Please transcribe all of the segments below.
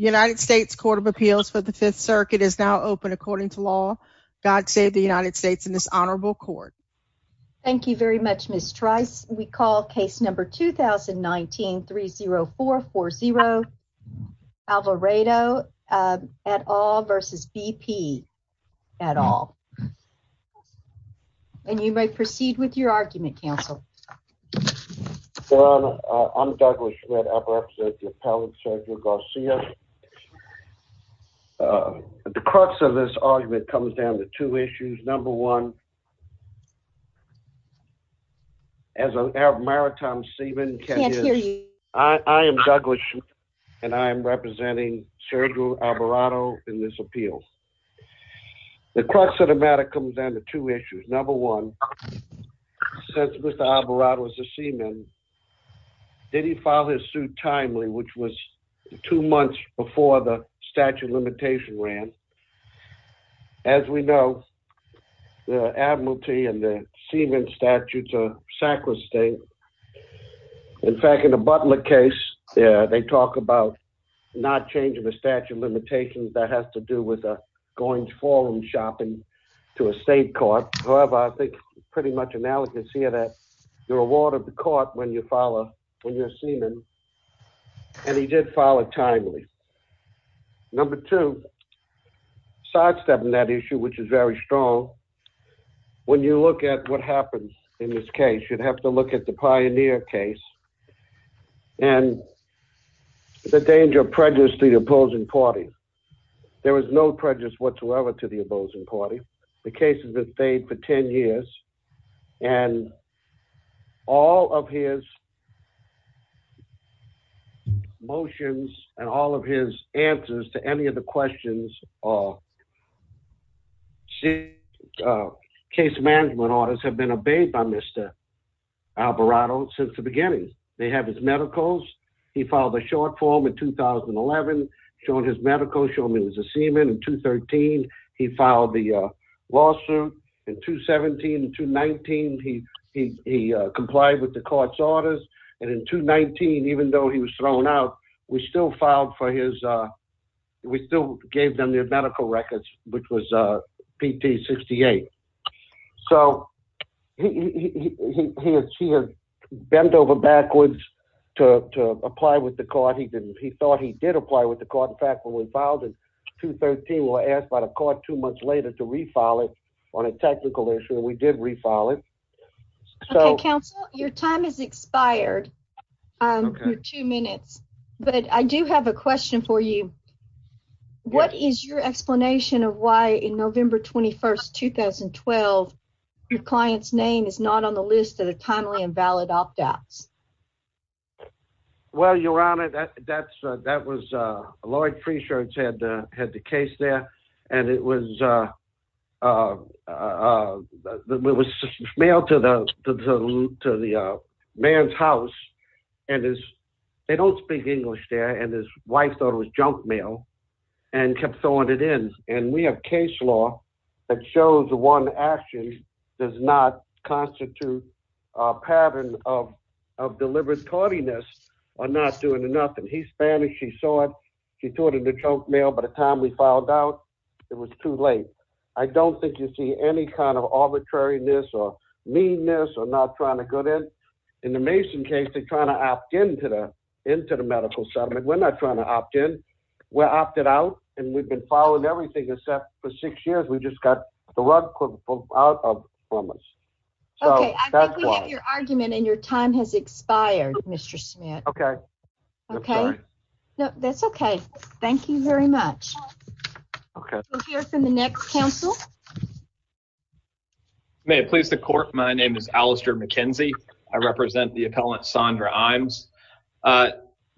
The United States Court of Appeals for the Fifth Circuit is now open according to law. God save the United States and this honorable court. Thank you very much, Ms. Trice. We call case number 2019-30440, Alvarado et al. versus BP et al. Your Honor, I'm Douglas Shredder. I represent the appellant, Sergio Garcia. The crux of this argument comes down to two issues. Number one, as a maritime seaman, I am Douglas Shredder and I am representing Sergio Alvarado in this appeal. The crux of the matter comes down to two issues. Number one, since Mr. Alvarado is a seaman, did he file his suit timely, which was two months before the statute of limitations ran? As we know, the admiralty and the seaman statutes are sacrosanct. In fact, in the Butler case, they talk about not changing the statute of limitations. That has to do with going to forum shopping to a state court. However, I think it's pretty much analogous here that you're a ward of the court when you're a seaman and he did file it timely. Number two, sidestepping that issue, which is very strong, when you look at what happens in this case, you'd have to look at the Pioneer case and the danger of prejudice to the opposing party. There was no prejudice whatsoever to the opposing party. The case has been stayed for 10 years and all of his motions and all of his answers to any of the questions or. Case management orders have been obeyed by Mr. Alvarado since the beginning. They have his medicals. He filed a short form in 2011. He showed his medicals, showed them he was a seaman. In 2013, he filed the lawsuit. In 2017, in 2019, he complied with the court's orders. And in 2019, even though he was thrown out, we still filed for his. We still gave them their medical records, which was a PT 68. So he had bent over backwards to apply with the court. He didn't. He thought he did apply with the court. In fact, when we filed in 2013, we were asked by the court two months later to refile it on a technical issue. We did refile it. Counsel, your time is expired. I'm two minutes, but I do have a question for you. What is your explanation of why in November 21st, 2012, your client's name is not on the list of the timely and valid opt outs? Well, your honor, that's that was a lawyer. Free shirts had had the case there and it was it was mailed to the to the man's house. And as they don't speak English there and his wife thought it was junk mail and kept throwing it in. And we have case law that shows the one action does not constitute a pattern of of deliberate tardiness or not doing enough. And he's Spanish. He saw it. He thought of the junk mail. By the time we filed out, it was too late. I don't think you see any kind of arbitrariness or meanness or not trying to go in. In the Mason case, they're trying to opt in to the into the medical settlement. We're not trying to opt in. We're opted out. And we've been following everything except for six years. We just got the rug pulled out from us. OK, I think we have your argument and your time has expired. Mr. Smith. OK. OK. No, that's OK. Thank you very much. OK, we'll hear from the next counsel. May it please the court. My name is Alistair McKenzie. I represent the appellant, Sandra Imes.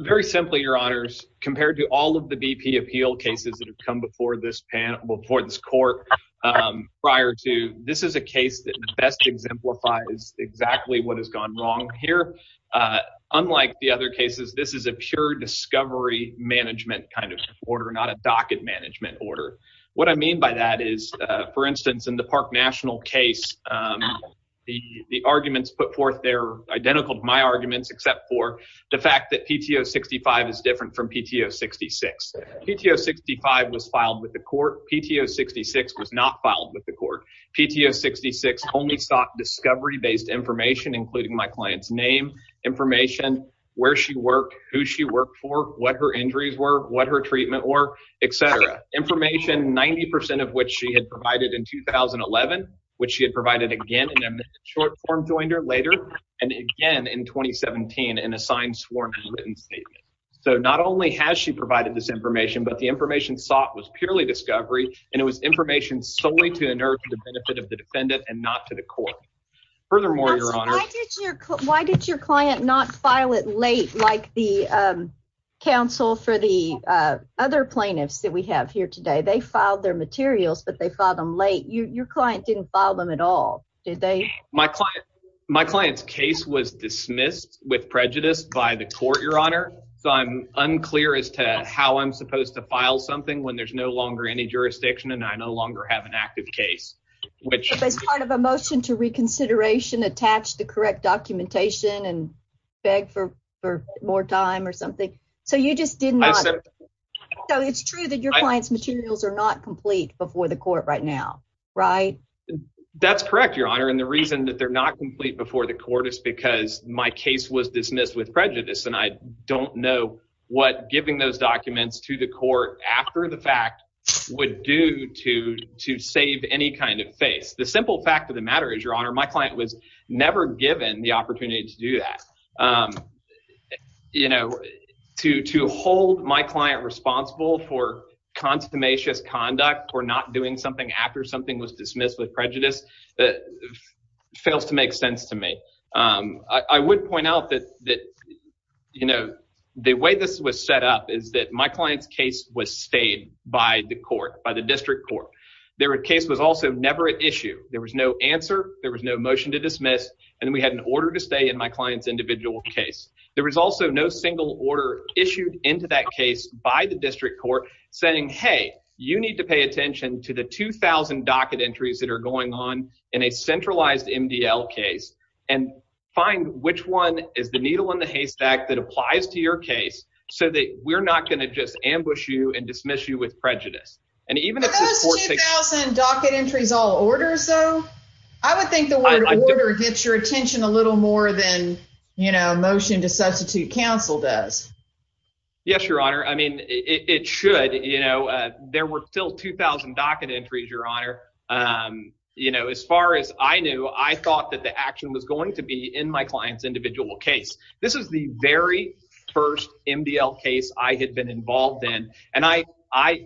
Very simply, your honors, compared to all of the BP appeal cases that have come before this panel before this court prior to. This is a case that best exemplifies exactly what has gone wrong here. Unlike the other cases, this is a pure discovery management kind of order, not a docket management order. What I mean by that is, for instance, in the Park National case, the arguments put forth there are identical to my arguments, except for the fact that PTO 65 is different from PTO 66. PTO 65 was filed with the court. PTO 66 was not filed with the court. PTO 66 only sought discovery based information, including my client's name, information, where she worked, who she worked for, what her injuries were, what her treatment or etc. Information, 90 percent of which she had provided in 2011, which she had provided again in a short form, joined her later and again in 2017 in a signed, sworn and written statement. So not only has she provided this information, but the information sought was purely discovery. And it was information solely to the benefit of the defendant and not to the court. Why did your client not file it late like the counsel for the other plaintiffs that we have here today? They filed their materials, but they filed them late. Your client didn't file them at all. My client's case was dismissed with prejudice by the court, Your Honor. So I'm unclear as to how I'm supposed to file something when there's no longer any jurisdiction and I no longer have an active case. As part of a motion to reconsideration, attach the correct documentation and beg for more time or something. So you just didn't. So it's true that your client's materials are not complete before the court right now, right? That's correct, Your Honor. And the reason that they're not complete before the court is because my case was dismissed with prejudice. And I don't know what giving those documents to the court after the fact would do to to save any kind of face. The simple fact of the matter is, Your Honor, my client was never given the opportunity to do that. You know, to to hold my client responsible for consummation as conduct or not doing something after something was dismissed with prejudice that fails to make sense to me. I would point out that that, you know, the way this was set up is that my client's case was stayed by the court, by the district court. Their case was also never an issue. There was no answer. There was no motion to dismiss. And we had an order to stay in my client's individual case. There was also no single order issued into that case by the district court saying, hey, you need to pay attention to the 2000 docket entries that are going on in a centralized MDL case. And find which one is the needle in the haystack that applies to your case so that we're not going to just ambush you and dismiss you with prejudice. Are those 2000 docket entries all orders, though? I would think the word order gets your attention a little more than, you know, motion to substitute counsel does. Yes, Your Honor. I mean, it should. You know, there were still 2000 docket entries, Your Honor. You know, as far as I knew, I thought that the action was going to be in my client's individual case. This is the very first MDL case I had been involved in. And I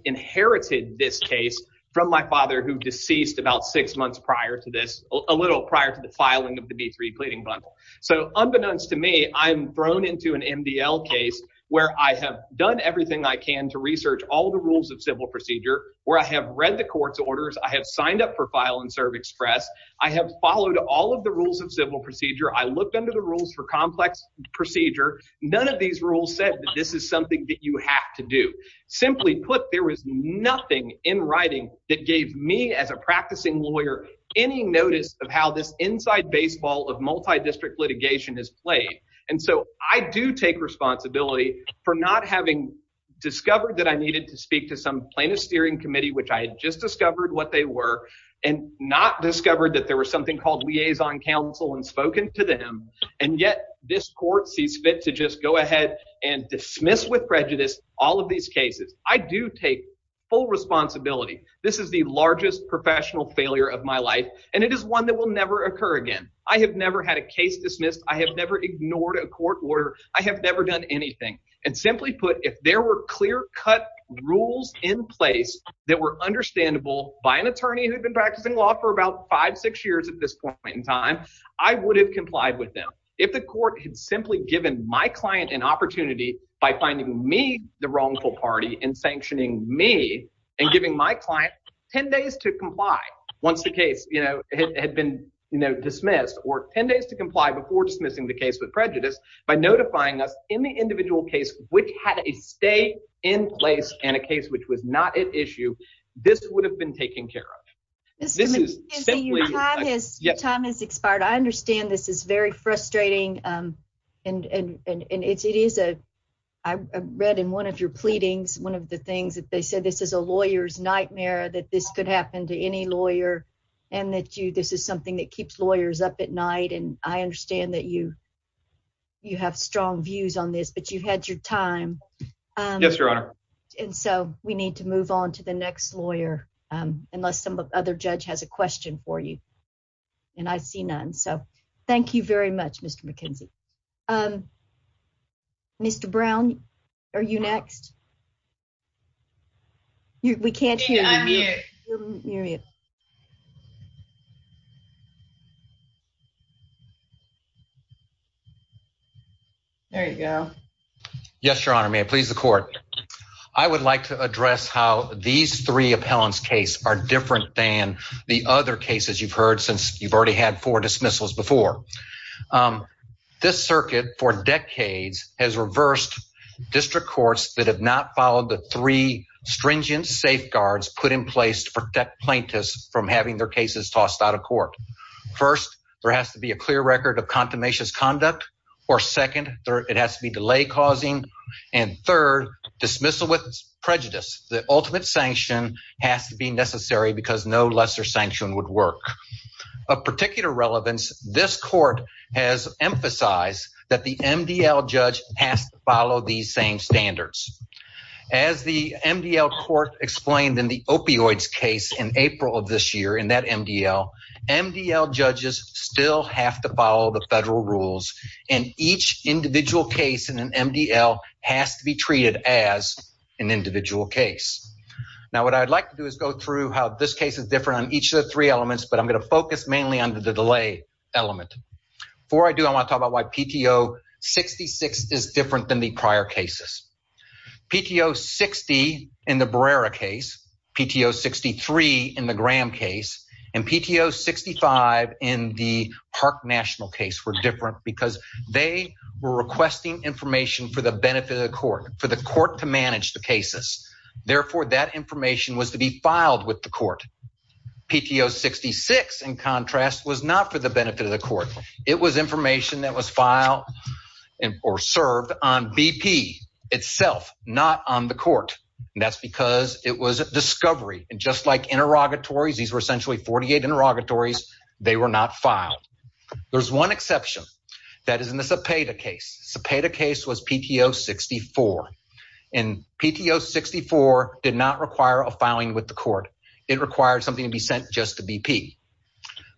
inherited this case from my father, who deceased about six months prior to this, a little prior to the filing of the B3 pleading bundle. So unbeknownst to me, I'm thrown into an MDL case where I have done everything I can to research all the rules of civil procedure, where I have read the court's orders. I have signed up for file and serve express. I have followed all of the rules of civil procedure. I looked under the rules for complex procedure. None of these rules said that this is something that you have to do. Simply put, there was nothing in writing that gave me as a practicing lawyer any notice of how this inside baseball of multi-district litigation is played. And so I do take responsibility for not having discovered that I needed to speak to some plaintiff's steering committee, which I had just discovered what they were, and not discovered that there was something called liaison counsel and spoken to them. And yet this court sees fit to just go ahead and dismiss with prejudice all of these cases. I do take full responsibility. This is the largest professional failure of my life, and it is one that will never occur again. I have never had a case dismissed. I have never ignored a court order. I have never done anything. And simply put, if there were clear-cut rules in place that were understandable by an attorney who had been practicing law for about five, six years at this point in time, I would have complied with them. If the court had simply given my client an opportunity by finding me the wrongful party and sanctioning me and giving my client ten days to comply once the case had been dismissed, or ten days to comply before dismissing the case with prejudice, by notifying us in the individual case which had a stay in place and a case which was not at issue, this would have been taken care of. Your time has expired. I understand this is very frustrating, and it is a – I read in one of your pleadings, one of the things that they said, this is a lawyer's nightmare, that this could happen to any lawyer, and that this is something that keeps lawyers up at night. And I understand that you have strong views on this, but you had your time. Yes, Your Honor. And so we need to move on to the next lawyer, unless some other judge has a question for you. And I see none, so thank you very much, Mr. McKenzie. Mr. Brown, are you next? We can't hear you. There you go. Yes, Your Honor. May I please the court? I would like to address how these three appellants' cases are different than the other cases you've heard since you've already had four dismissals before. This circuit for decades has reversed district courts that have not followed the three stringent safeguards put in place to protect plaintiffs from having their cases tossed out of court. First, there has to be a clear record of contumacious conduct, or second, it has to be delay causing, and third, dismissal with prejudice. The ultimate sanction has to be necessary because no lesser sanction would work. Of particular relevance, this court has emphasized that the MDL judge has to follow these same standards. As the MDL court explained in the opioids case in April of this year in that MDL, MDL judges still have to follow the federal rules, and each individual case in an MDL has to be treated as an individual case. Now, what I'd like to do is go through how this case is different on each of the three elements, but I'm going to focus mainly on the delay element. Before I do, I want to talk about why PTO 66 is different than the prior cases. PTO 60 in the Barrera case, PTO 63 in the Graham case, and PTO 65 in the Park National case were different because they were requesting information for the benefit of the court, for the court to manage the cases. Therefore, that information was to be filed with the court. PTO 66, in contrast, was not for the benefit of the court. It was information that was filed or served on BP itself, not on the court. That's because it was a discovery, and just like interrogatories, these were essentially 48 interrogatories. They were not filed. There's one exception. That is in the Cepeda case. Cepeda case was PTO 64, and PTO 64 did not require a filing with the court. It required something to be sent just to BP.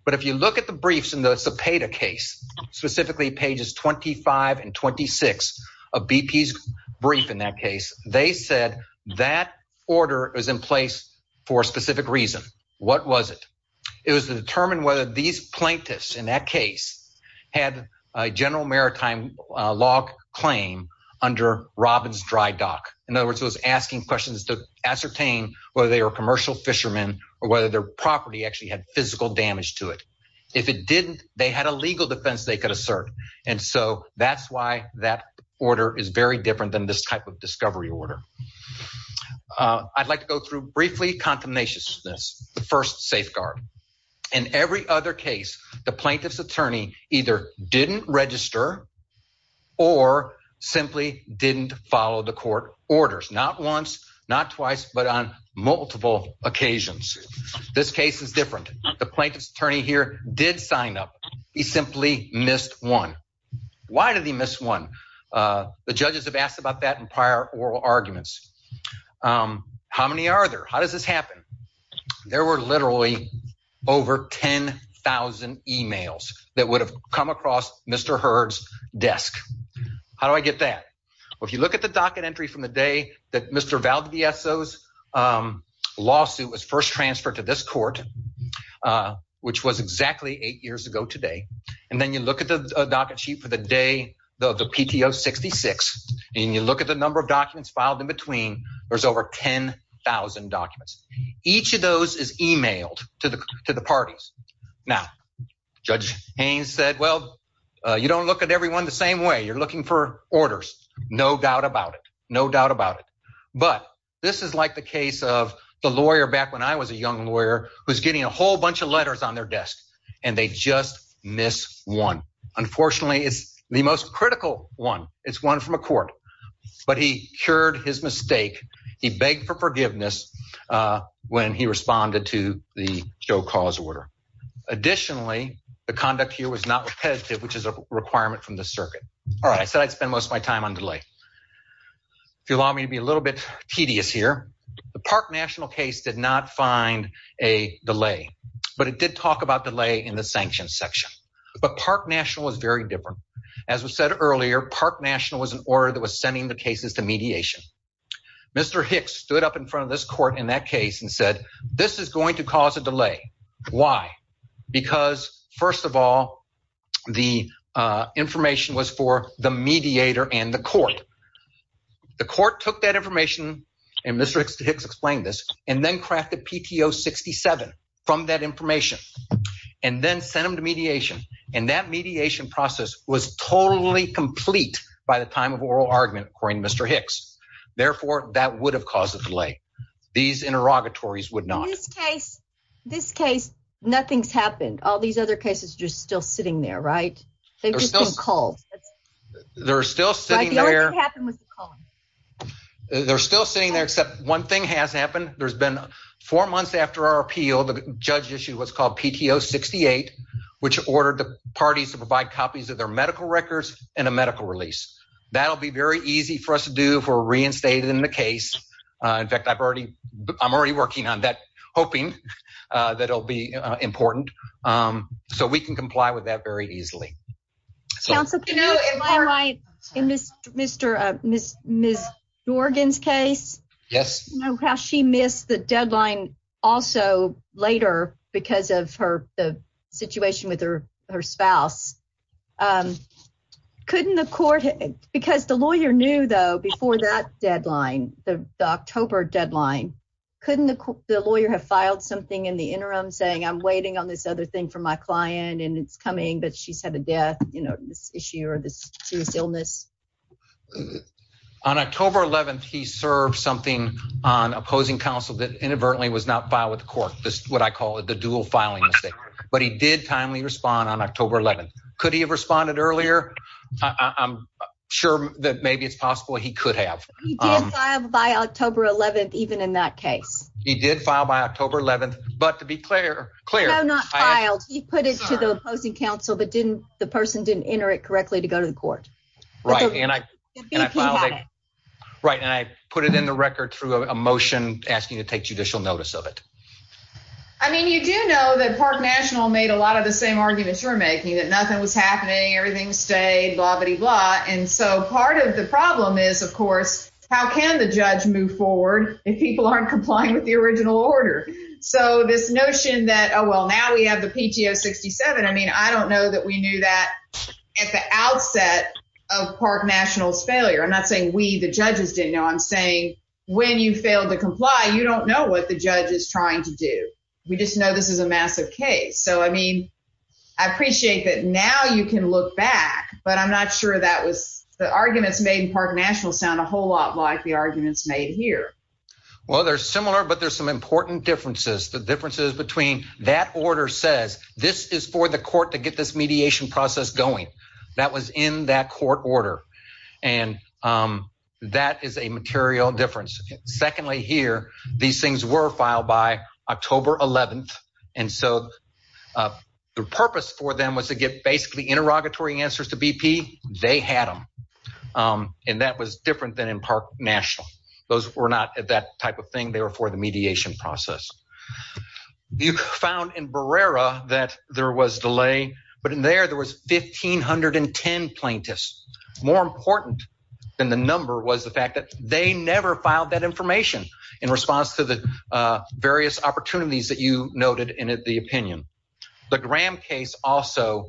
But if you look at the briefs in the Cepeda case, specifically pages 25 and 26 of BP's brief in that case, they said that order is in place for a specific reason. What was it? It was to determine whether these plaintiffs in that case had a general maritime log claim under Robbins Dry Dock. In other words, it was asking questions to ascertain whether they were commercial fishermen or whether their property actually had physical damage to it. If it didn't, they had a legal defense they could assert, and so that's why that order is very different than this type of discovery order. I'd like to go through briefly contemnation of this, the first safeguard. In every other case, the plaintiff's attorney either didn't register or simply didn't follow the court orders, not once, not twice, but on multiple occasions. This case is different. The plaintiff's attorney here did sign up. He simply missed one. Why did he miss one? The judges have asked about that in prior oral arguments. How many are there? How does this happen? There were literally over 10,000 emails that would have come across Mr. Hurd's desk. How do I get that? Well, if you look at the docket entry from the day that Mr. Valdivieso's lawsuit was first transferred to this court, which was exactly eight years ago today, and then you look at the docket sheet for the day of the PTO 66, and you look at the number of documents filed in between, there's over 10,000 documents. Each of those is emailed to the parties. Now, Judge Haynes said, well, you don't look at everyone the same way. You're looking for orders. No doubt about it. No doubt about it. But this is like the case of the lawyer back when I was a young lawyer who's getting a whole bunch of letters on their desk, and they just miss one. Unfortunately, it's the most critical one. It's one from a court. But he cured his mistake. He begged for forgiveness when he responded to the Joe Cause order. Additionally, the conduct here was not repetitive, which is a requirement from the circuit. All right, I said I'd spend most of my time on delay. If you'll allow me to be a little bit tedious here, the Park National case did not find a delay, but it did talk about delay in the sanctions section. But Park National was very different. As was said earlier, Park National was an order that was sending the cases to mediation. Mr. Hicks stood up in front of this court in that case and said this is going to cause a delay. Why? Because, first of all, the information was for the mediator and the court. The court took that information, and Mr. Hicks explained this, and then crafted PTO 67 from that information and then sent them to mediation. And that mediation process was totally complete by the time of oral argument, according to Mr. Hicks. Therefore, that would have caused a delay. These interrogatories would not. In this case, nothing's happened. All these other cases are just still sitting there, right? They've just been called. They're still sitting there. The only thing that happened was the calling. They're still sitting there, except one thing has happened. There's been four months after our appeal. The judge issued what's called PTO 68, which ordered the parties to provide copies of their medical records and a medical release. That'll be very easy for us to do if we're reinstated in the case. In fact, I'm already working on that, hoping that it'll be important so we can comply with that very easily. In Ms. Jorgen's case, how she missed the deadline also later because of the situation with her spouse, couldn't the court, because the lawyer knew, though, before that deadline, the October deadline, couldn't the lawyer have filed something in the interim saying, I'm waiting on this other thing for my client, and it's coming, but she's had a death issue or this serious illness? On October 11th, he served something on opposing counsel that inadvertently was not filed with the court. This is what I call the dual filing mistake. But he did timely respond on October 11th. Could he have responded earlier? I'm sure that maybe it's possible he could have. He did file by October 11th, even in that case. He did file by October 11th. But to be clear, Claire. No, not filed. He put it to the opposing counsel, but the person didn't enter it correctly to go to the court. Right, and I put it in the record through a motion asking to take judicial notice of it. I mean, you do know that Park National made a lot of the same arguments you're making, that nothing was happening, everything stayed, blah, blah, blah. And so part of the problem is, of course, how can the judge move forward if people aren't complying with the original order? So this notion that, oh, well, now we have the PTO 67. I mean, I don't know that we knew that at the outset of Park National's failure. I'm not saying we, the judges, didn't know. I'm saying when you fail to comply, you don't know what the judge is trying to do. We just know this is a massive case. So, I mean, I appreciate that now you can look back, but I'm not sure that was the arguments made in Park National sound a whole lot like the arguments made here. Well, they're similar, but there's some important differences. The differences between that order says this is for the court to get this mediation process going. That was in that court order, and that is a material difference. Secondly, here, these things were filed by October 11th, and so the purpose for them was to get basically interrogatory answers to BP. They had them, and that was different than in Park National. Those were not that type of thing. They were for the mediation process. You found in Barrera that there was delay, but in there, there was 1,510 plaintiffs. More important than the number was the fact that they never filed that information in response to the various opportunities that you noted in the opinion. The Graham case also,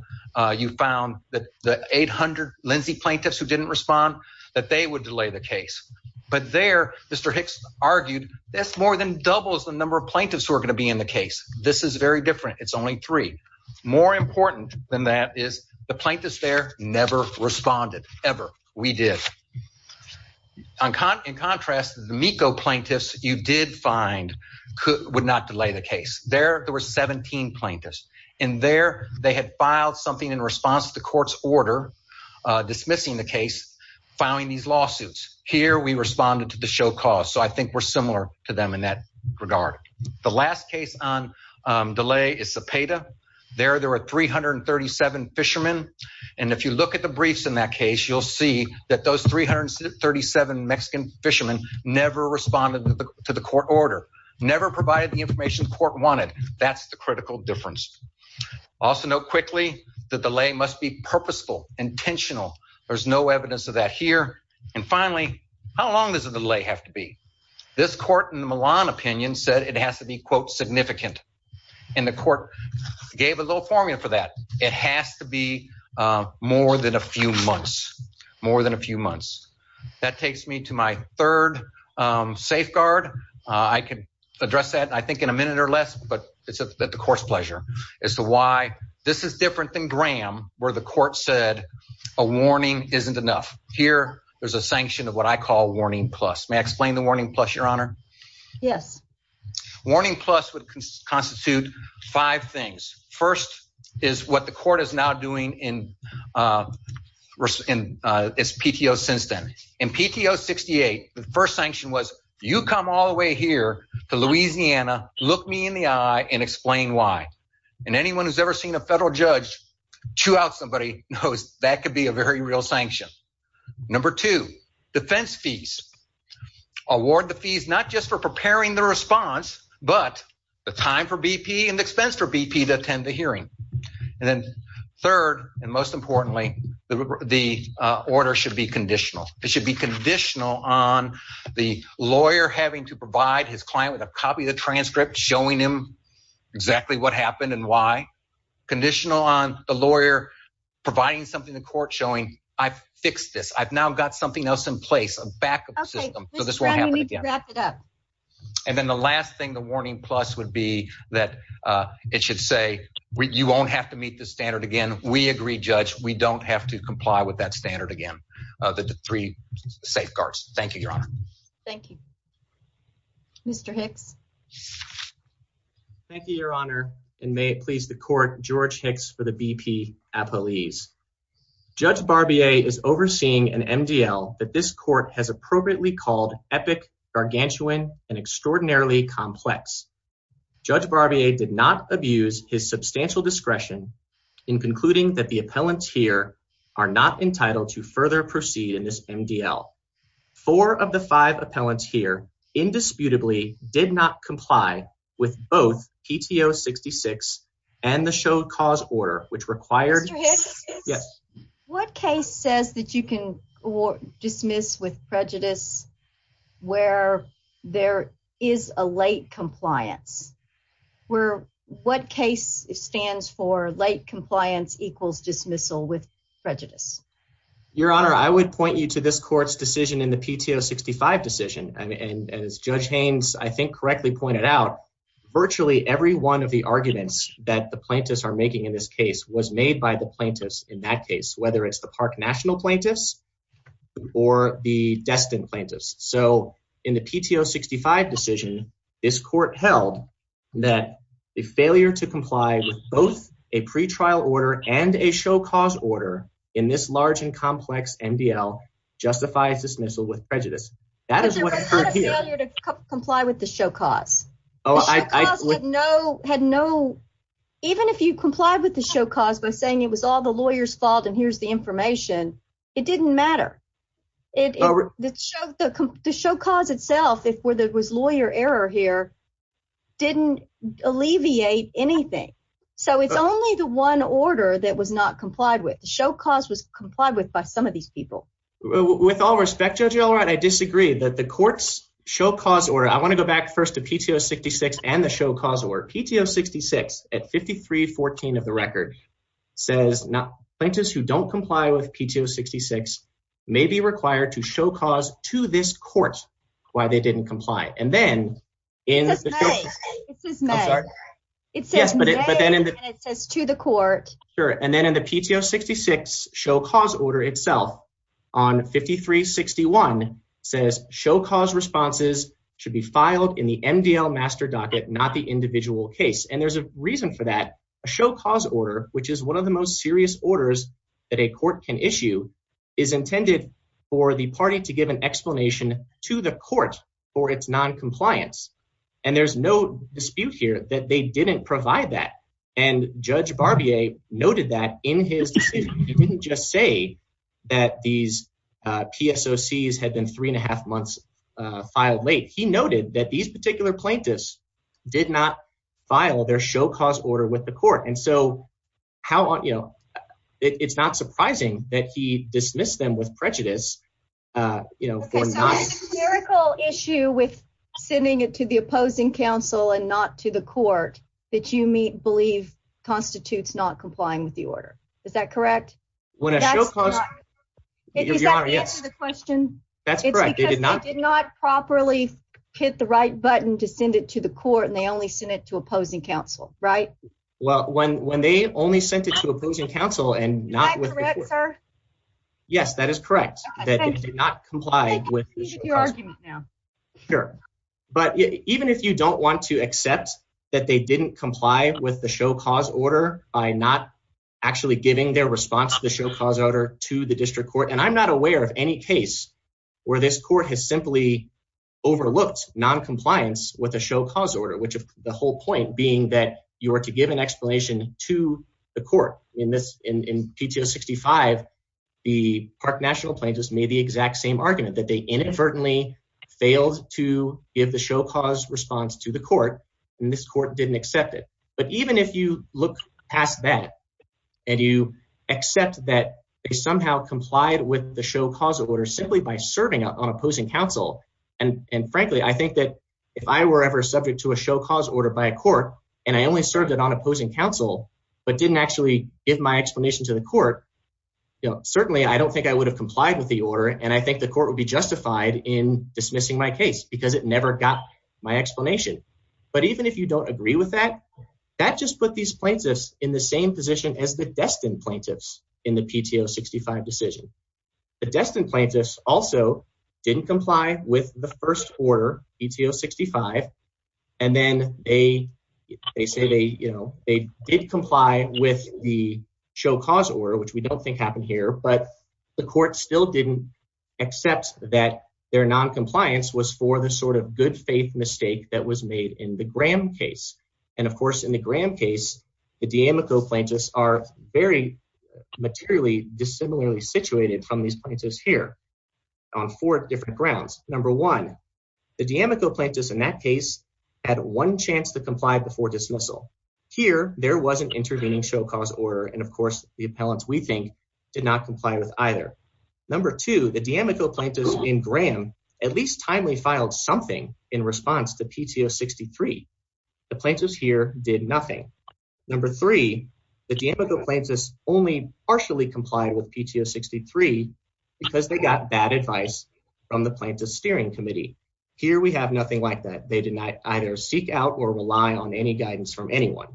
you found that the 800 Lindsay plaintiffs who didn't respond, that they would delay the case. But there, Mr. Hicks argued this more than doubles the number of plaintiffs who are going to be in the case. This is very different. It's only three. More important than that is the plaintiffs there never responded, ever. We did. In contrast, the MECO plaintiffs you did find would not delay the case. There, there were 17 plaintiffs, and there, they had filed something in response to the court's order dismissing the case, filing these lawsuits. Here, we responded to the show cause, so I think we're similar to them in that regard. The last case on delay is Cepeda. There, there were 337 fishermen, and if you look at the briefs in that case, you'll see that those 337 Mexican fishermen never responded to the court order, never provided the information the court wanted. That's the critical difference. Also note quickly, the delay must be purposeful, intentional. There's no evidence of that here. And finally, how long does a delay have to be? This court in the Milan opinion said it has to be, quote, significant, and the court gave a little formula for that. It has to be more than a few months, more than a few months. That takes me to my third safeguard. I can address that, I think, in a minute or less, but it's at the court's pleasure as to why this is different than Graham where the court said a warning isn't enough. Here, there's a sanction of what I call warning plus. May I explain the warning plus, Your Honor? Yes. Warning plus would constitute five things. First is what the court is now doing in its PTO since then. In PTO 68, the first sanction was you come all the way here to Louisiana, look me in the eye, and explain why. And anyone who's ever seen a federal judge chew out somebody knows that could be a very real sanction. Number two, defense fees. Award the fees not just for preparing the response, but the time for BP and expense for BP to attend the hearing. And then third and most importantly, the order should be conditional. It should be conditional on the lawyer having to provide his client with a copy of the transcript showing him exactly what happened and why. Conditional on the lawyer providing something the court showing, I've fixed this. I've now got something else in place, a backup system, so this won't happen again. Mr. Brown, you need to wrap it up. And then the last thing, the warning plus would be that it should say you won't have to meet the standard again. We agree, Judge. We don't have to comply with that standard again, the three safeguards. Thank you, Your Honor. Thank you. Mr. Hicks? Thank you, Your Honor. And may it please the court, George Hicks for the BP appellees. Judge Barbier is overseeing an MDL that this court has appropriately called epic, gargantuan and extraordinarily complex. Judge Barbier did not abuse his substantial discretion in concluding that the appellants here are not entitled to further proceed in this MDL. Four of the five appellants here indisputably did not comply with both PTO 66 and the show cause order, which required. Mr. Hicks? Yes. What case says that you can dismiss with prejudice where there is a late compliance? What case stands for late compliance equals dismissal with prejudice? Your Honor, I would point you to this court's decision in the PTO 65 decision. And as Judge Haynes, I think correctly pointed out, virtually every one of the arguments that the plaintiffs are making in this case was made by the plaintiffs in that case, whether it's the park national plaintiffs or the destined plaintiffs. So in the PTO 65 decision, this court held that the failure to comply with both a pretrial order and a show cause order in this large and complex MDL justifies dismissal with prejudice. But there was not a failure to comply with the show cause. Even if you complied with the show cause by saying it was all the lawyer's fault and here's the information, it didn't matter. The show cause itself, if there was lawyer error here, didn't alleviate anything. So it's only the one order that was not complied with. The show cause was complied with by some of these people. With all respect, Judge Elrod, I disagree that the court's show cause order. I want to go back first to PTO 66 and the show cause or PTO 66 at 5314 of the record says plaintiffs who don't comply with PTO 66 may be required to show cause to this court why they didn't comply. It says may. I'm sorry. It says may and it says to the court. Sure. And then in the PTO 66 show cause order itself on 5361 says show cause responses should be filed in the MDL master docket, not the individual case. And there's a reason for that. A show cause order, which is one of the most serious orders that a court can issue, is intended for the party to give an explanation to the court for its noncompliance. And there's no dispute here that they didn't provide that. And Judge Barbier noted that in his decision, he didn't just say that these PSOCs had been three and a half months filed late. He noted that these particular plaintiffs did not file their show cause order with the court. And so how you know, it's not surprising that he dismissed them with prejudice, you know, for a miracle issue with sending it to the opposing counsel and not to the court that you may believe constitutes not complying with the order. Is that correct? When I show cause the question, that's right. They did not properly hit the right button to send it to the court and they only send it to opposing counsel. Right. Well, when they only sent it to opposing counsel and not with the court. Am I correct, sir? Yes, that is correct. That they did not comply with the show cause order. You can continue your argument now. Sure. But even if you don't want to accept that they didn't comply with the show cause order by not actually giving their response to the show cause order to the district court, and I'm not aware of any case where this court has simply overlooked noncompliance with a show cause order. Which of the whole point being that you are to give an explanation to the court in this, in PTO 65, the park national plane just made the exact same argument that they inadvertently failed to give the show cause response to the court. And this court didn't accept it. But even if you look past that and you accept that they somehow complied with the show cause order simply by serving up on opposing counsel. And, and frankly, I think that if I were ever subject to a show cause order by a court and I only served it on opposing counsel, but didn't actually give my explanation to the court. Certainly I don't think I would have complied with the order. And I think the court would be justified in dismissing my case because it never got my explanation. But even if you don't agree with that, that just put these plaintiffs in the same position as the destined plaintiffs in the PTO 65 decision, the destined plaintiffs also didn't comply with the first order PTO 65. And then they, they say they, you know, they did comply with the show cause order, which we don't think happened here, but the court still didn't accept that their non-compliance was for the sort of good faith mistake that was made in the Graham case. And of course, in the Graham case, the D'Amico plaintiffs are very materially dissimilarly situated from these plaintiffs here on four different grounds. Number one, the D'Amico plaintiffs in that case had one chance to comply before dismissal. Here, there wasn't intervening show cause order. And of course the appellants we think did not comply with either. Number two, the D'Amico plaintiffs in Graham at least timely filed something in response to PTO 63. The plaintiffs here did nothing. Number three, the D'Amico plaintiffs only partially complied with PTO 63 because they got bad advice from the plaintiff's steering committee. Here we have nothing like that. They did not either seek out or rely on any guidance from anyone.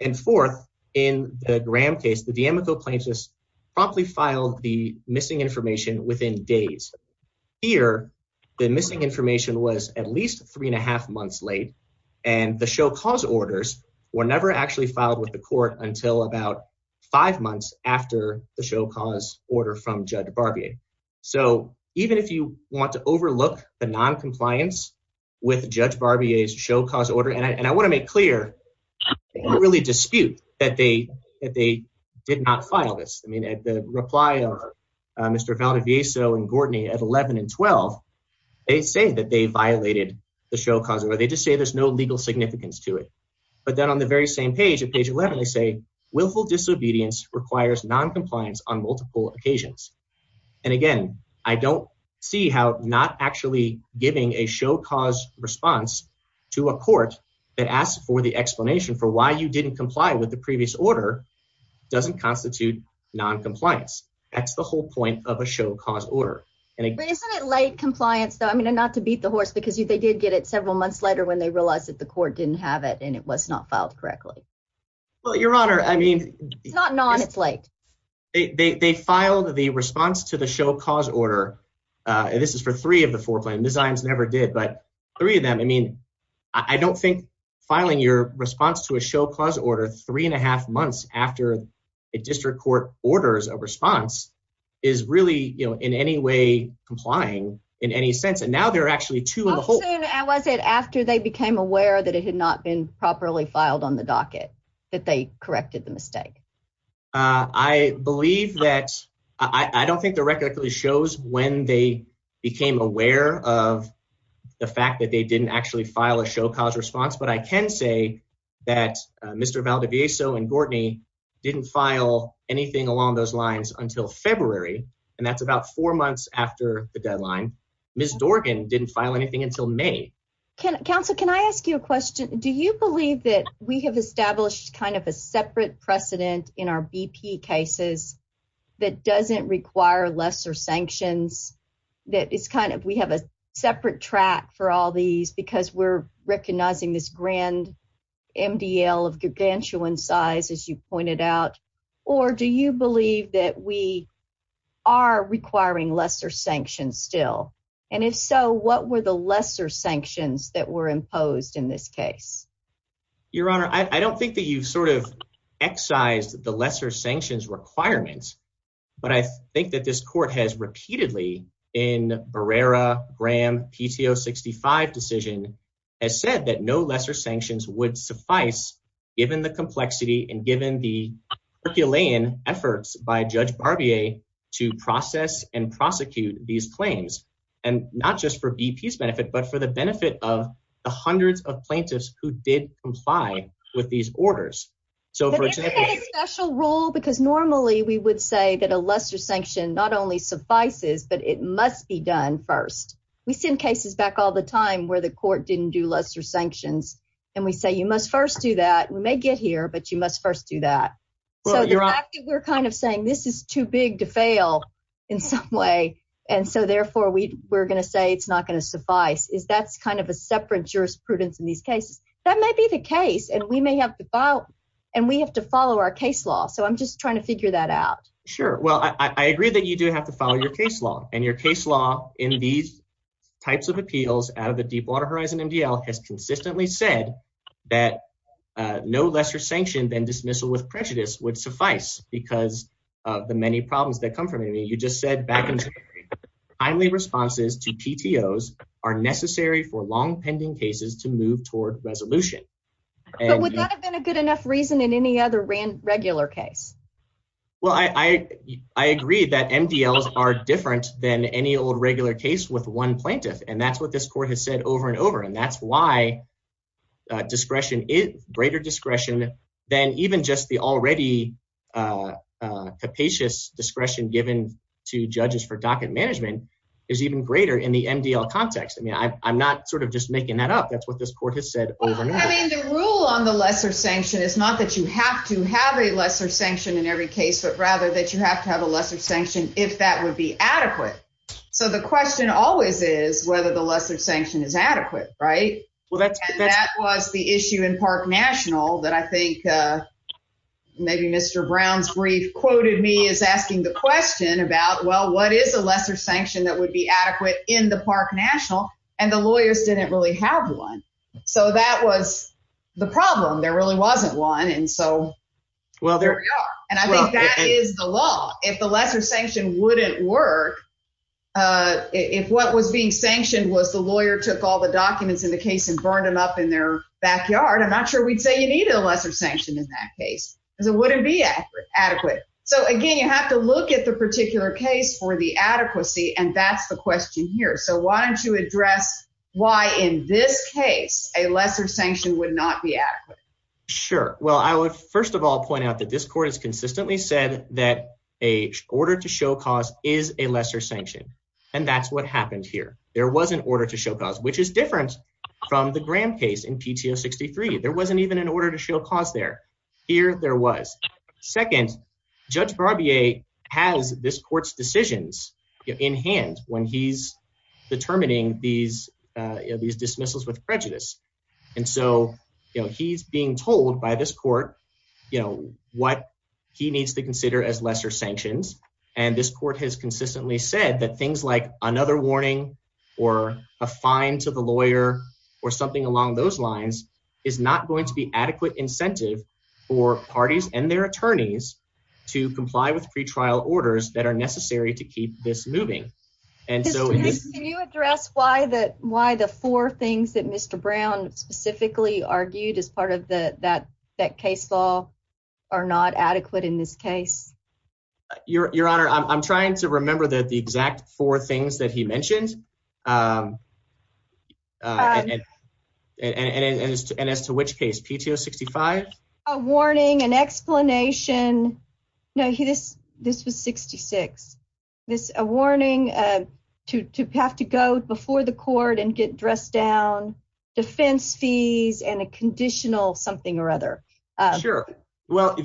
And fourth, in the Graham case, the D'Amico plaintiffs promptly filed the missing information within days. Here, the missing information was at least three and a half months late. And the show cause orders were never actually filed with the court until about five months after the show cause order from Judge Barbier. So even if you want to overlook the noncompliance with Judge Barbier's show cause order, and I want to make clear, I really dispute that they did not file this. I mean, at the reply of Mr. Valdivieso and Gordney at 11 and 12, they say that they violated the show cause order. They just say there's no legal significance to it. But then on the very same page, at page 11, they say, willful disobedience requires noncompliance on multiple occasions. And again, I don't see how not actually giving a show cause response to a court that asks for the explanation for why you didn't comply with the previous order doesn't constitute noncompliance. That's the whole point of a show cause order. Isn't it late compliance, though? I mean, not to beat the horse, because they did get it several months later when they realized that the court didn't have it and it was not filed correctly. Well, Your Honor, I mean. It's not non, it's late. They filed the response to the show cause order. And this is for three of the four claims. The Zions never did. But three of them. I mean, I don't think filing your response to a show cause order three and a half months after a district court orders of response is really in any way complying in any sense. And now there are actually two. How soon was it after they became aware that it had not been properly filed on the docket that they corrected the mistake? I believe that I don't think the record actually shows when they became aware of the fact that they didn't actually file a show cause response. But I can say that Mr. Valdivieso and Gordney didn't file anything along those lines until February. And that's about four months after the deadline. Ms. Dorgan didn't file anything until May. Counsel, can I ask you a question? Do you believe that we have established kind of a separate precedent in our BP cases that doesn't require lesser sanctions? That is kind of we have a separate track for all these because we're recognizing this grand MDL of gargantuan size, as you pointed out. Or do you believe that we are requiring lesser sanctions still? And if so, what were the lesser sanctions that were imposed in this case? Your Honor, I don't think that you've sort of excised the lesser sanctions requirements. But I think that this court has repeatedly in Barrera-Graham PTO 65 decision has said that no lesser sanctions would suffice, given the complexity and given the Herculean efforts by Judge Barbier to process and prosecute these claims. And not just for BP's benefit, but for the benefit of the hundreds of plaintiffs who did comply with these orders. But isn't that a special rule? Because normally we would say that a lesser sanction not only suffices, but it must be done first. We send cases back all the time where the court didn't do lesser sanctions, and we say you must first do that. We may get here, but you must first do that. So the fact that we're kind of saying this is too big to fail in some way, and so therefore we're going to say it's not going to suffice, is that's kind of a separate jurisprudence in these cases. That may be the case, and we have to follow our case law. So I'm just trying to figure that out. Sure. Well, I agree that you do have to follow your case law, and your case law in these types of appeals out of the Deepwater Horizon MDL has consistently said that no lesser sanction than dismissal with prejudice would suffice because of the many problems that come from it. You just said back in January, timely responses to PTOs are necessary for long pending cases to move toward resolution. But would that have been a good enough reason in any other regular case? Well, I agree that MDLs are different than any old regular case with one plaintiff, and that's what this court has said over and over, and that's why greater discretion than even just the already capacious discretion given to judges for docket management is even greater in the MDL context. I mean, I'm not sort of just making that up. That's what this court has said over and over. I mean, the rule on the lesser sanction is not that you have to have a lesser sanction in every case, but rather that you have to have a lesser sanction if that would be adequate. So the question always is whether the lesser sanction is adequate, right? And that was the issue in Park National that I think maybe Mr. Brown's brief quoted me as asking the question about, well, what is a lesser sanction that would be adequate in the Park National, and the lawyers didn't really have one. So that was the problem. There really wasn't one, and so there we are. And I think that is the law. If the lesser sanction wouldn't work, if what was being sanctioned was the lawyer took all the documents in the case and burned them up in their backyard, I'm not sure we'd say you needed a lesser sanction in that case because it wouldn't be adequate. So, again, you have to look at the particular case for the adequacy, and that's the question here. So why don't you address why in this case a lesser sanction would not be adequate? Sure. Well, I would first of all point out that this court has consistently said that an order to show cause is a lesser sanction, and that's what happened here. There was an order to show cause, which is different from the Graham case in PTO 63. There wasn't even an order to show cause there. Here there was. Second, Judge Barbier has this court's decisions in hand when he's determining these dismissals with prejudice, and so he's being told by this court what he needs to consider as lesser sanctions. And this court has consistently said that things like another warning or a fine to the lawyer or something along those lines is not going to be adequate incentive for parties and their attorneys to comply with pretrial orders that are necessary to keep this moving. Can you address why the four things that Mr. Brown specifically argued as part of that case law are not adequate in this case? Your Honor, I'm trying to remember the exact four things that he mentioned, and as to which case, PTO 65? A warning, an explanation. No, this was 66. A warning to have to go before the court and get dressed down, defense fees, and a conditional something or other. Sure. Well,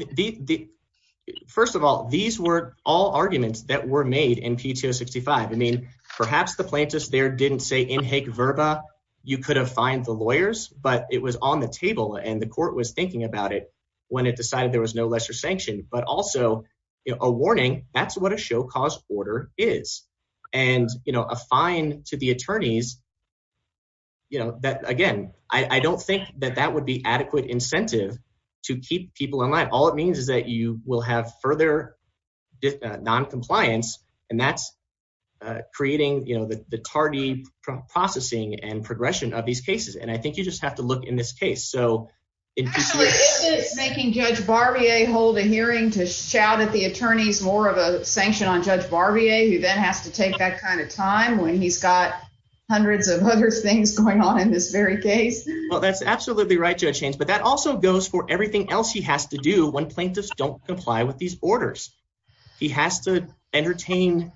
first of all, these were all arguments that were made in PTO 65. I mean, perhaps the plaintiffs there didn't say in heck verba you could have fined the lawyers, but it was on the table, and the court was thinking about it when it decided there was no lesser sanction. But also a warning, that's what a show cause order is. And a fine to the attorneys, again, I don't think that that would be adequate incentive to keep people in line. All it means is that you will have further noncompliance, and that's creating the tardy processing and progression of these cases. And I think you just have to look in this case. Actually, isn't it making Judge Barbier hold a hearing to shout at the attorneys more of a sanction on Judge Barbier, who then has to take that kind of time when he's got hundreds of other things going on in this very case? Well, that's absolutely right, Judge Haynes, but that also goes for everything else he has to do when plaintiffs don't comply with these orders. He has to entertain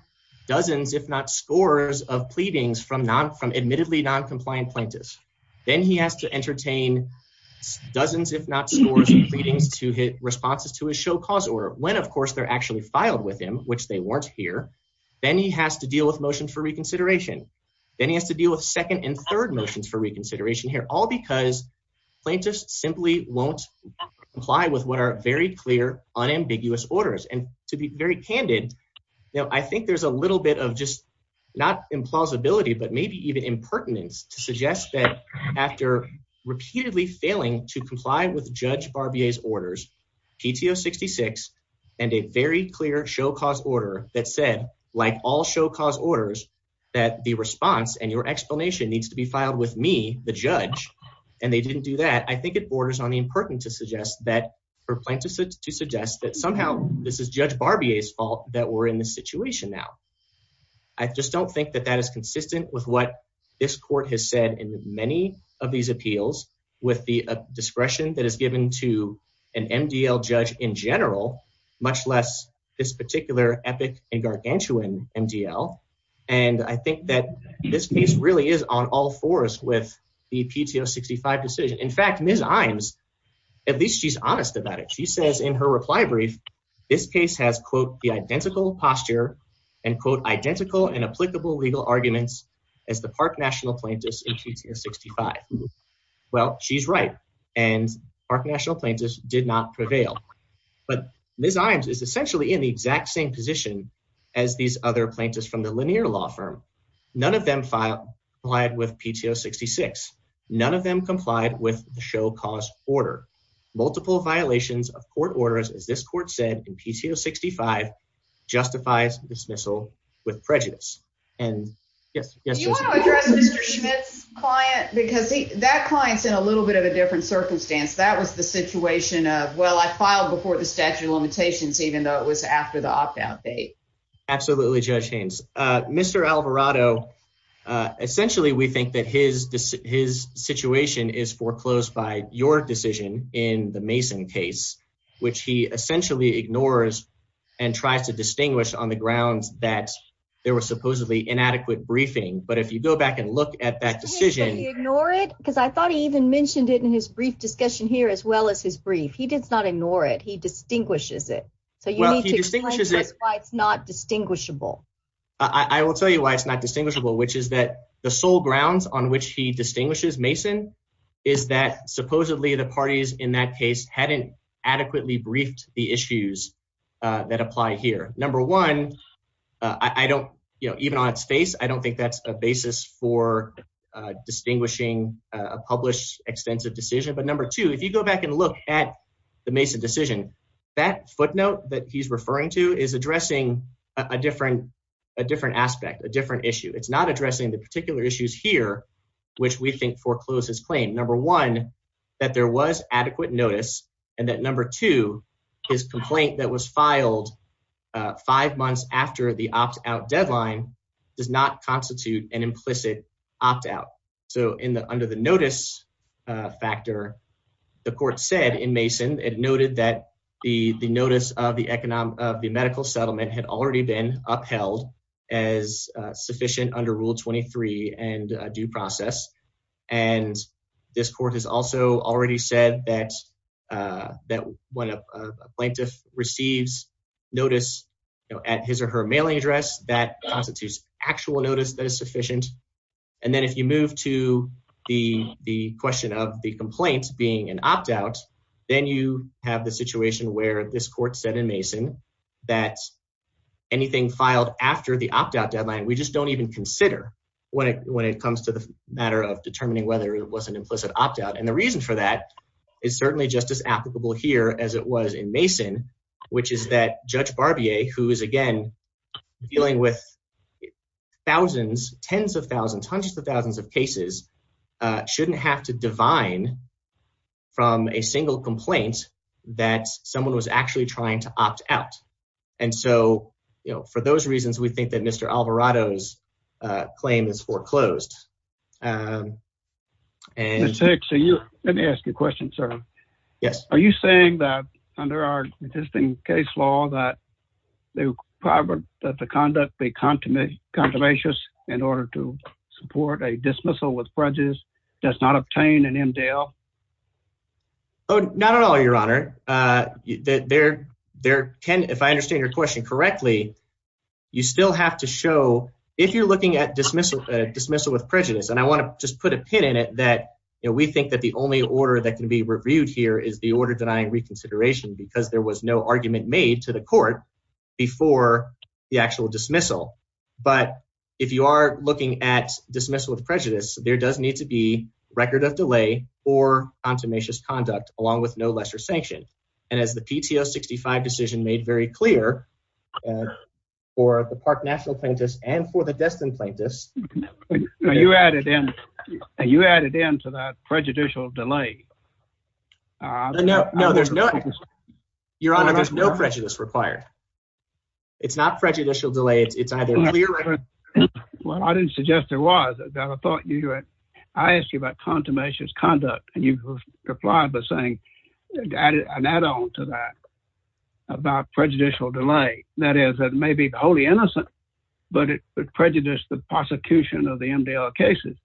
dozens, if not scores, of pleadings from admittedly noncompliant plaintiffs. Then he has to entertain dozens, if not scores, of pleadings to hit responses to his show cause order, when, of course, they're actually filed with him, which they weren't here. Then he has to deal with motions for reconsideration. Then he has to deal with second and third motions for reconsideration here, all because plaintiffs simply won't comply with what are very clear, unambiguous orders. And to be very candid, I think there's a little bit of just not implausibility, but maybe even impertinence to suggest that after repeatedly failing to comply with Judge Barbier's orders, PTO 66, and a very clear show cause order that said, like all show cause orders, that the response and your explanation needs to be filed with me, the judge, and they didn't do that. I think it borders on the impertinence to suggest that for plaintiffs to suggest that somehow this is Judge Barbier's fault that we're in this situation now. I just don't think that that is consistent with what this court has said in many of these appeals with the discretion that is given to an MDL judge in general, much less this particular epic and gargantuan MDL. And I think that this case really is on all fours with the PTO 65 decision. In fact, Ms. Iams, at least she's honest about it. She says in her reply brief, this case has quote, the identical posture and quote, identical and applicable legal arguments as the park national plaintiffs in PTO 65. Well, she's right. And our national plaintiffs did not prevail, but Ms. Iams is essentially in the exact same position as these other plaintiffs from the linear law firm. None of them filed with PTO 66. None of them complied with the show cause order multiple violations of court orders. As this court said in PTO 65 justifies dismissal with prejudice. And yes, yes, you want to address this client because that client's in a little bit of a different circumstance. That was the situation. Well, I filed before the statute of limitations, even though it was after the opt out date. Absolutely. Judge Haynes, Mr. Alvarado. Essentially, we think that his his situation is foreclosed by your decision in the Mason case, which he essentially ignores and tries to distinguish on the grounds that there was supposedly inadequate briefing. But if you go back and look at that decision, ignore it, because I thought he even mentioned it in his brief discussion here as well as his brief. He did not ignore it. He distinguishes it. It's not distinguishable. I will tell you why it's not distinguishable, which is that the sole grounds on which he distinguishes Mason is that supposedly the parties in that case hadn't adequately briefed the issues that apply here. Number one, I don't even on its face. I don't think that's a basis for distinguishing a published extensive decision. But number two, if you go back and look at the Mason decision, that footnote that he's referring to is addressing a different a different aspect, a different issue. It's not addressing the particular issues here, which we think forecloses claim number one, that there was adequate notice and that number two, his complaint that was filed five months after the opt out deadline does not constitute an implicit opt out. So in the under the notice factor, the court said in Mason, it noted that the notice of the economic of the medical settlement had already been upheld as sufficient under Rule 23 and due process. And this court has also already said that that when a plaintiff receives notice at his or her mailing address, that constitutes actual notice that is sufficient. And then if you move to the, the question of the complaints being an opt out, then you have the situation where this court said in Mason that anything filed after the opt out deadline, we just don't even consider when it, when it comes to the matter of determining whether it was an implicit opt out. And the reason for that is certainly just as applicable here as it was in Mason, which is that Judge Barbier, who is again dealing with thousands, tens of thousands, hundreds of thousands of cases, shouldn't have to divine from a single complaint that someone was actually trying to opt out. And so, you know, for those reasons, we think that Mr. Alvarado's claim is foreclosed. And so you let me ask you a question, sir. Yes. Are you saying that under our existing case law, that they were private, that the conduct, they contaminate controversious in order to support a dismissal with prejudice does not obtain an MDL. Oh, not at all. Your honor that there, there can, if I understand your question correctly, you still have to show if you're looking at dismissal, dismissal with prejudice. And I want to just put a pin in it that we think that the only order that can be reviewed here is the order denying reconsideration because there was no argument made to the court before the actual dismissal. But if you are looking at dismissal of prejudice, there does need to be record of delay or contumacious conduct along with no lesser sanction. And as the PTO 65 decision made very clear for the Park National Plaintiffs and for the Destin Plaintiffs. You added in, you added into that prejudicial delay. No, no, there's no. Your honor, there's no prejudice required. It's not prejudicial delay. It's either. Well, I didn't suggest there was a thought. I asked you about contumacious conduct and you replied by saying an add on to that about prejudicial delay. That is, that may be wholly innocent, but it prejudice the prosecution of the MDL cases.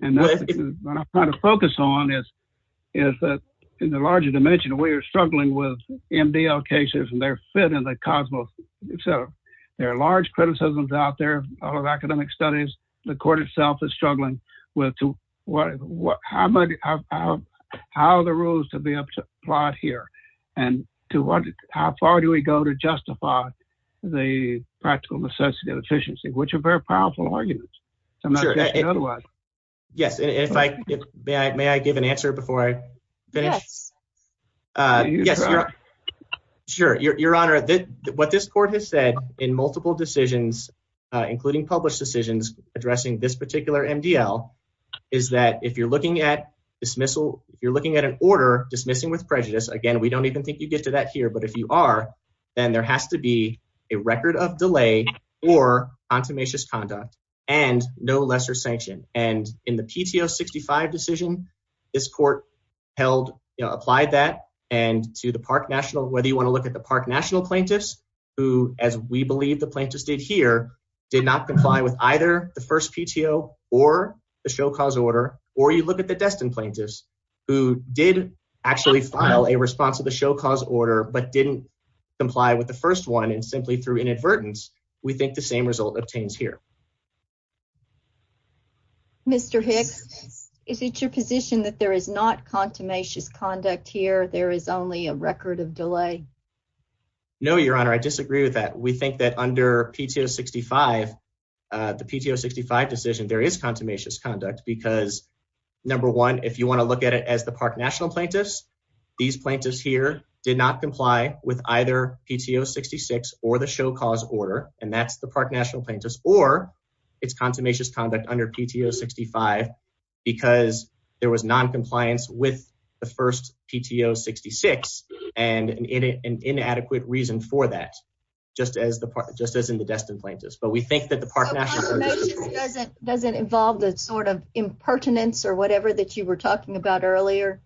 And that's what I'm trying to focus on is, is that in the larger dimension, we are struggling with MDL cases and their fit in the cosmos. So there are large criticisms out there of academic studies. The court itself is struggling with what, how, how, how the rules to be applied here and to what, how far do we go to justify the practical necessity of efficiency, which are very powerful arguments. Yes. And if I may, I give an answer before I finish. Yes. Sure. Your honor, what this court has said in multiple decisions, including published decisions addressing this particular MDL, is that if you're looking at dismissal, you're looking at an order dismissing with prejudice again, we don't even think you get to that here. But if you are, then there has to be a record of delay or contumacious conduct and no lesser sanction. And in the PTO 65 decision, this court held, you know, applied that and to the park national, whether you want to look at the park national plaintiffs who, as we believe the plaintiffs did here did not comply with either the first PTO or the show cause order. Or you look at the destined plaintiffs who did actually file a response to the show cause order, but didn't comply with the first one. And simply through inadvertence, we think the same result obtains here. Mr. Hicks, is it your position that there is not contumacious conduct here? There is only a record of delay. No, your honor. I disagree with that. We think that under PTO 65, the PTO 65 decision, there is contumacious conduct because number one, if you want to look at it as the park national plaintiffs, these plaintiffs here did not comply with either PTO 66 or the show cause order. And that's the park national plaintiffs or it's contumacious conduct under PTO 65 because there was noncompliance with the first PTO 66 and inadequate reason for that, just as in the destined plaintiffs. Doesn't involve the sort of impertinence or whatever that you were talking about earlier,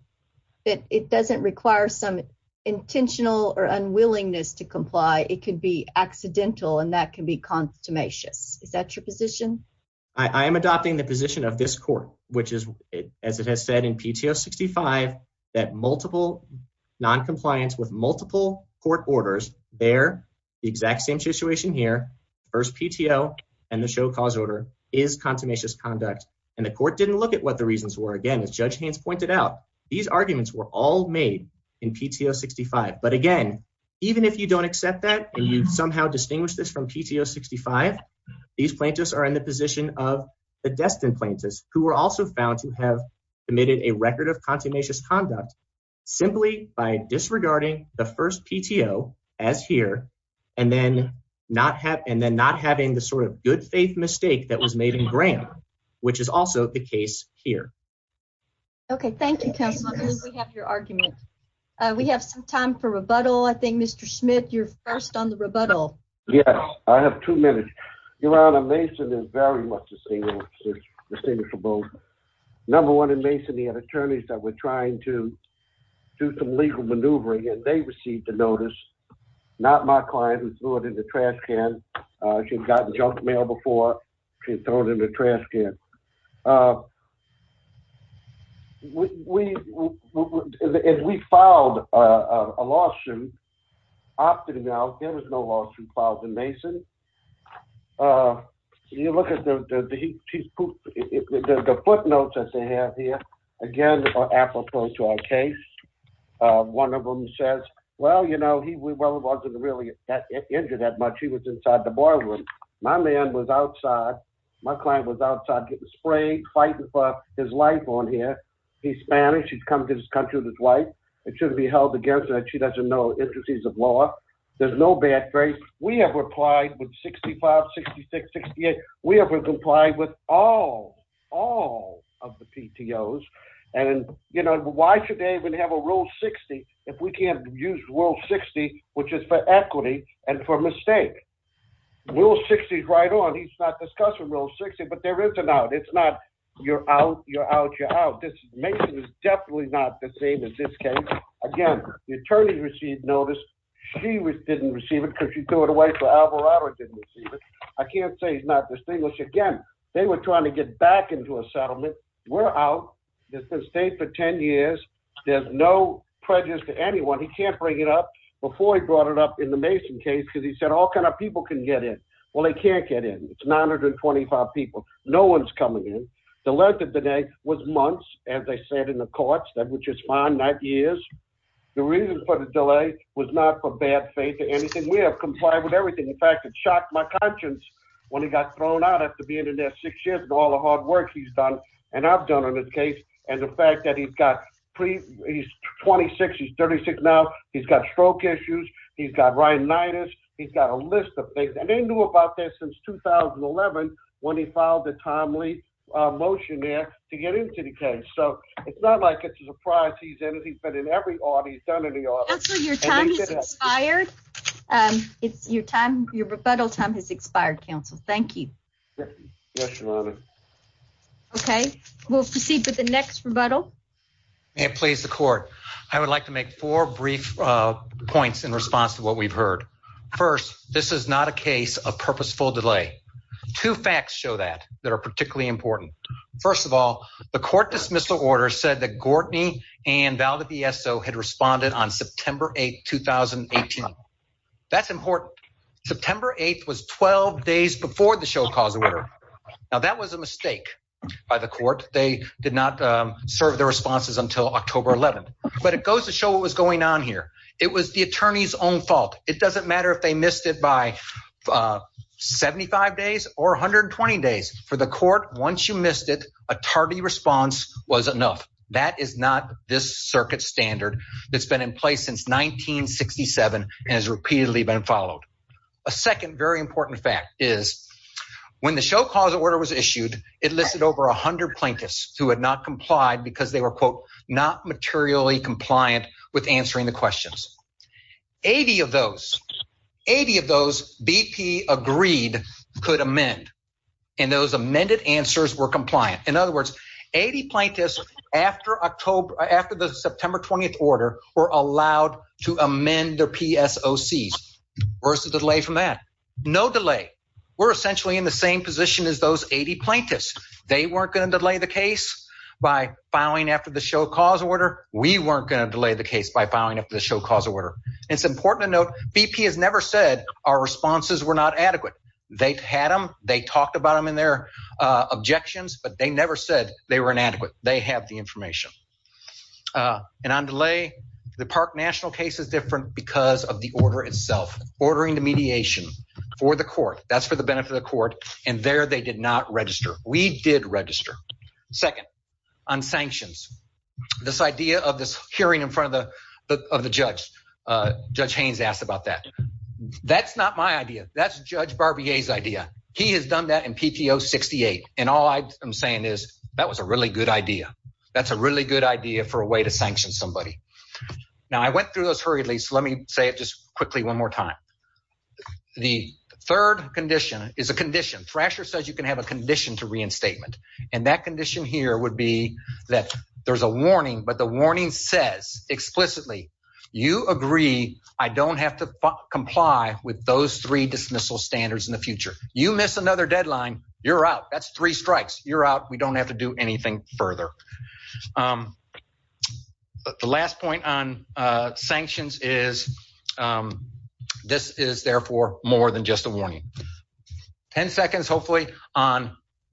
that it doesn't require some intentional or unwillingness to comply. It could be accidental and that can be contumacious. Is that your position? I am adopting the position of this court, which is as it has said in PTO 65, that multiple noncompliance with multiple court orders. They're the exact same situation here. First PTO and the show cause order is contumacious conduct. And the court didn't look at what the reasons were. These arguments were all made in PTO 65. But again, even if you don't accept that and you somehow distinguish this from PTO 65, these plaintiffs are in the position of the destined plaintiffs who were also found to have committed a record of contumacious conduct simply by disregarding the first PTO as here and then not have, and then not having the sort of good faith mistake that was made in Graham, which is also the case here. Okay, thank you. We have your argument. We have some time for rebuttal. I think Mr. Smith, you're first on the rebuttal. Yes, I have two minutes. Your Honor, Mason is very much the same. It's the same for both. Number one in Mason, he had attorneys that were trying to do some legal maneuvering and they received the notice. Not my client who threw it in the trash can. She'd gotten junk mail before. She was thrown in the trash can. We filed a lawsuit. There was no lawsuit filed in Mason. You look at the footnotes that they have here. Again, apropos to our case. One of them says, well, you know, he wasn't really injured that much. He was inside the boardroom. My man was outside. My client was outside getting sprayed, fighting for his life on here. He's Spanish. He's come to this country with his wife. It shouldn't be held against her. She doesn't know the intricacies of law. There's no bad faith. We have replied with 65, 66, 68. We have complied with all, all of the PTOs. And, you know, why should they even have a Rule 60 if we can't use Rule 60, which is for equity and for mistake? Rule 60 is right on. It's not discussed in Rule 60, but there is an out. It's not you're out, you're out, you're out. Mason is definitely not the same as this case. Again, the attorney received notice. She didn't receive it because she threw it away for Alvarado and didn't receive it. I can't say he's not distinguished. Again, they were trying to get back into a settlement. We're out. It's been stayed for 10 years. There's no prejudice to anyone. He can't bring it up before he brought it up in the Mason case because he said all kind of people can get in. Well, they can't get in. It's 925 people. No one's coming in. The length of the day was months, as they said in the courts, which is fine, not years. The reason for the delay was not for bad faith or anything. We have complied with everything. In fact, it shocked my conscience when he got thrown out after being in there six years and all the hard work he's done and I've done on this case. And the fact that he's 26, he's 36 now. He's got stroke issues. He's got rhinitis. He's got a list of things. I didn't know about this since 2011 when he filed the timely motion there to get into the case. So it's not like it's a surprise. He's in it. He's been in every order. He's done in the office. Your time is expired. It's your time. Your rebuttal time has expired. Counsel. Thank you. OK, we'll proceed to the next rebuttal. May it please the court. I would like to make four brief points in response to what we've heard. First, this is not a case of purposeful delay. Two facts show that that are particularly important. First of all, the court dismissal order said that Gortney and Valdivieso had responded on September 8th, 2018. That's important. September 8th was 12 days before the show cause order. Now, that was a mistake by the court. They did not serve their responses until October 11th. But it goes to show what was going on here. It was the attorney's own fault. It doesn't matter if they missed it by 75 days or 120 days. For the court, once you missed it, a tardy response was enough. That is not this circuit standard that's been in place since 1967 and has repeatedly been followed. A second very important fact is when the show cause order was issued, it listed over 100 plaintiffs who had not complied because they were, quote, not materially compliant with answering the questions. 80 of those, 80 of those BP agreed could amend, and those amended answers were compliant. In other words, 80 plaintiffs after the September 20th order were allowed to amend their PSOCs. Where's the delay from that? No delay. We're essentially in the same position as those 80 plaintiffs. They weren't going to delay the case by filing after the show cause order. We weren't going to delay the case by filing after the show cause order. It's important to note BP has never said our responses were not adequate. They had them. They talked about them in their objections, but they never said they were inadequate. They have the information. And on delay, the Park National case is different because of the order itself, ordering the mediation for the court. That's for the benefit of the court, and there they did not register. We did register. Second, on sanctions, this idea of this hearing in front of the judge, Judge Haynes asked about that. That's not my idea. That's Judge Barbier's idea. He has done that in PTO 68, and all I'm saying is that was a really good idea. That's a really good idea for a way to sanction somebody. Now, I went through those hurriedly, so let me say it just quickly one more time. The third condition is a condition. Thrasher says you can have a condition to reinstatement, and that condition here would be that there's a warning. But the warning says explicitly you agree I don't have to comply with those three dismissal standards in the future. You miss another deadline, you're out. That's three strikes. You're out. We don't have to do anything further. The last point on sanctions is this is, therefore, more than just a warning. Ten seconds, hopefully, on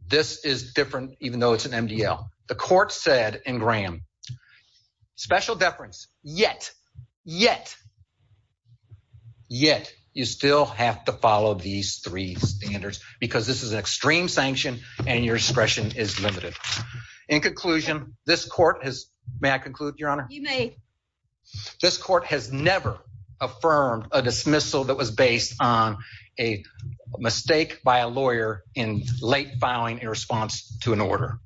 this is different even though it's an MDL. The court said in Graham, special deference, yet, yet, yet you still have to follow these three standards because this is an extreme sanction and your discretion is limited. In conclusion, this court has – may I conclude, Your Honor? You may. This court has never affirmed a dismissal that was based on a mistake by a lawyer in late filing a response to an order.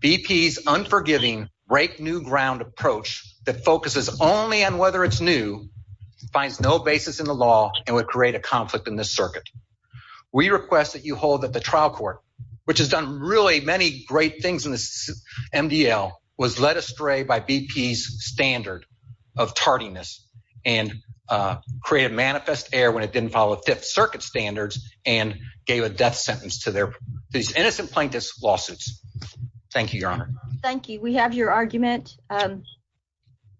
BP's unforgiving break-new-ground approach that focuses only on whether it's new finds no basis in the law and would create a conflict in this circuit. We request that you hold that the trial court, which has done really many great things in this MDL, was led astray by BP's standard of tardiness and created manifest error when it didn't follow Fifth Circuit standards and gave a death sentence to these innocent plaintiffs' lawsuits. Thank you, Your Honor. Thank you. We have your argument.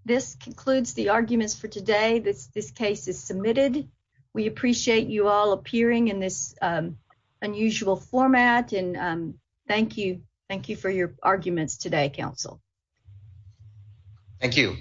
This concludes the arguments for today. This case is submitted. We appreciate you all appearing in this unusual format, and thank you. Thank you for your arguments today, counsel. Thank you.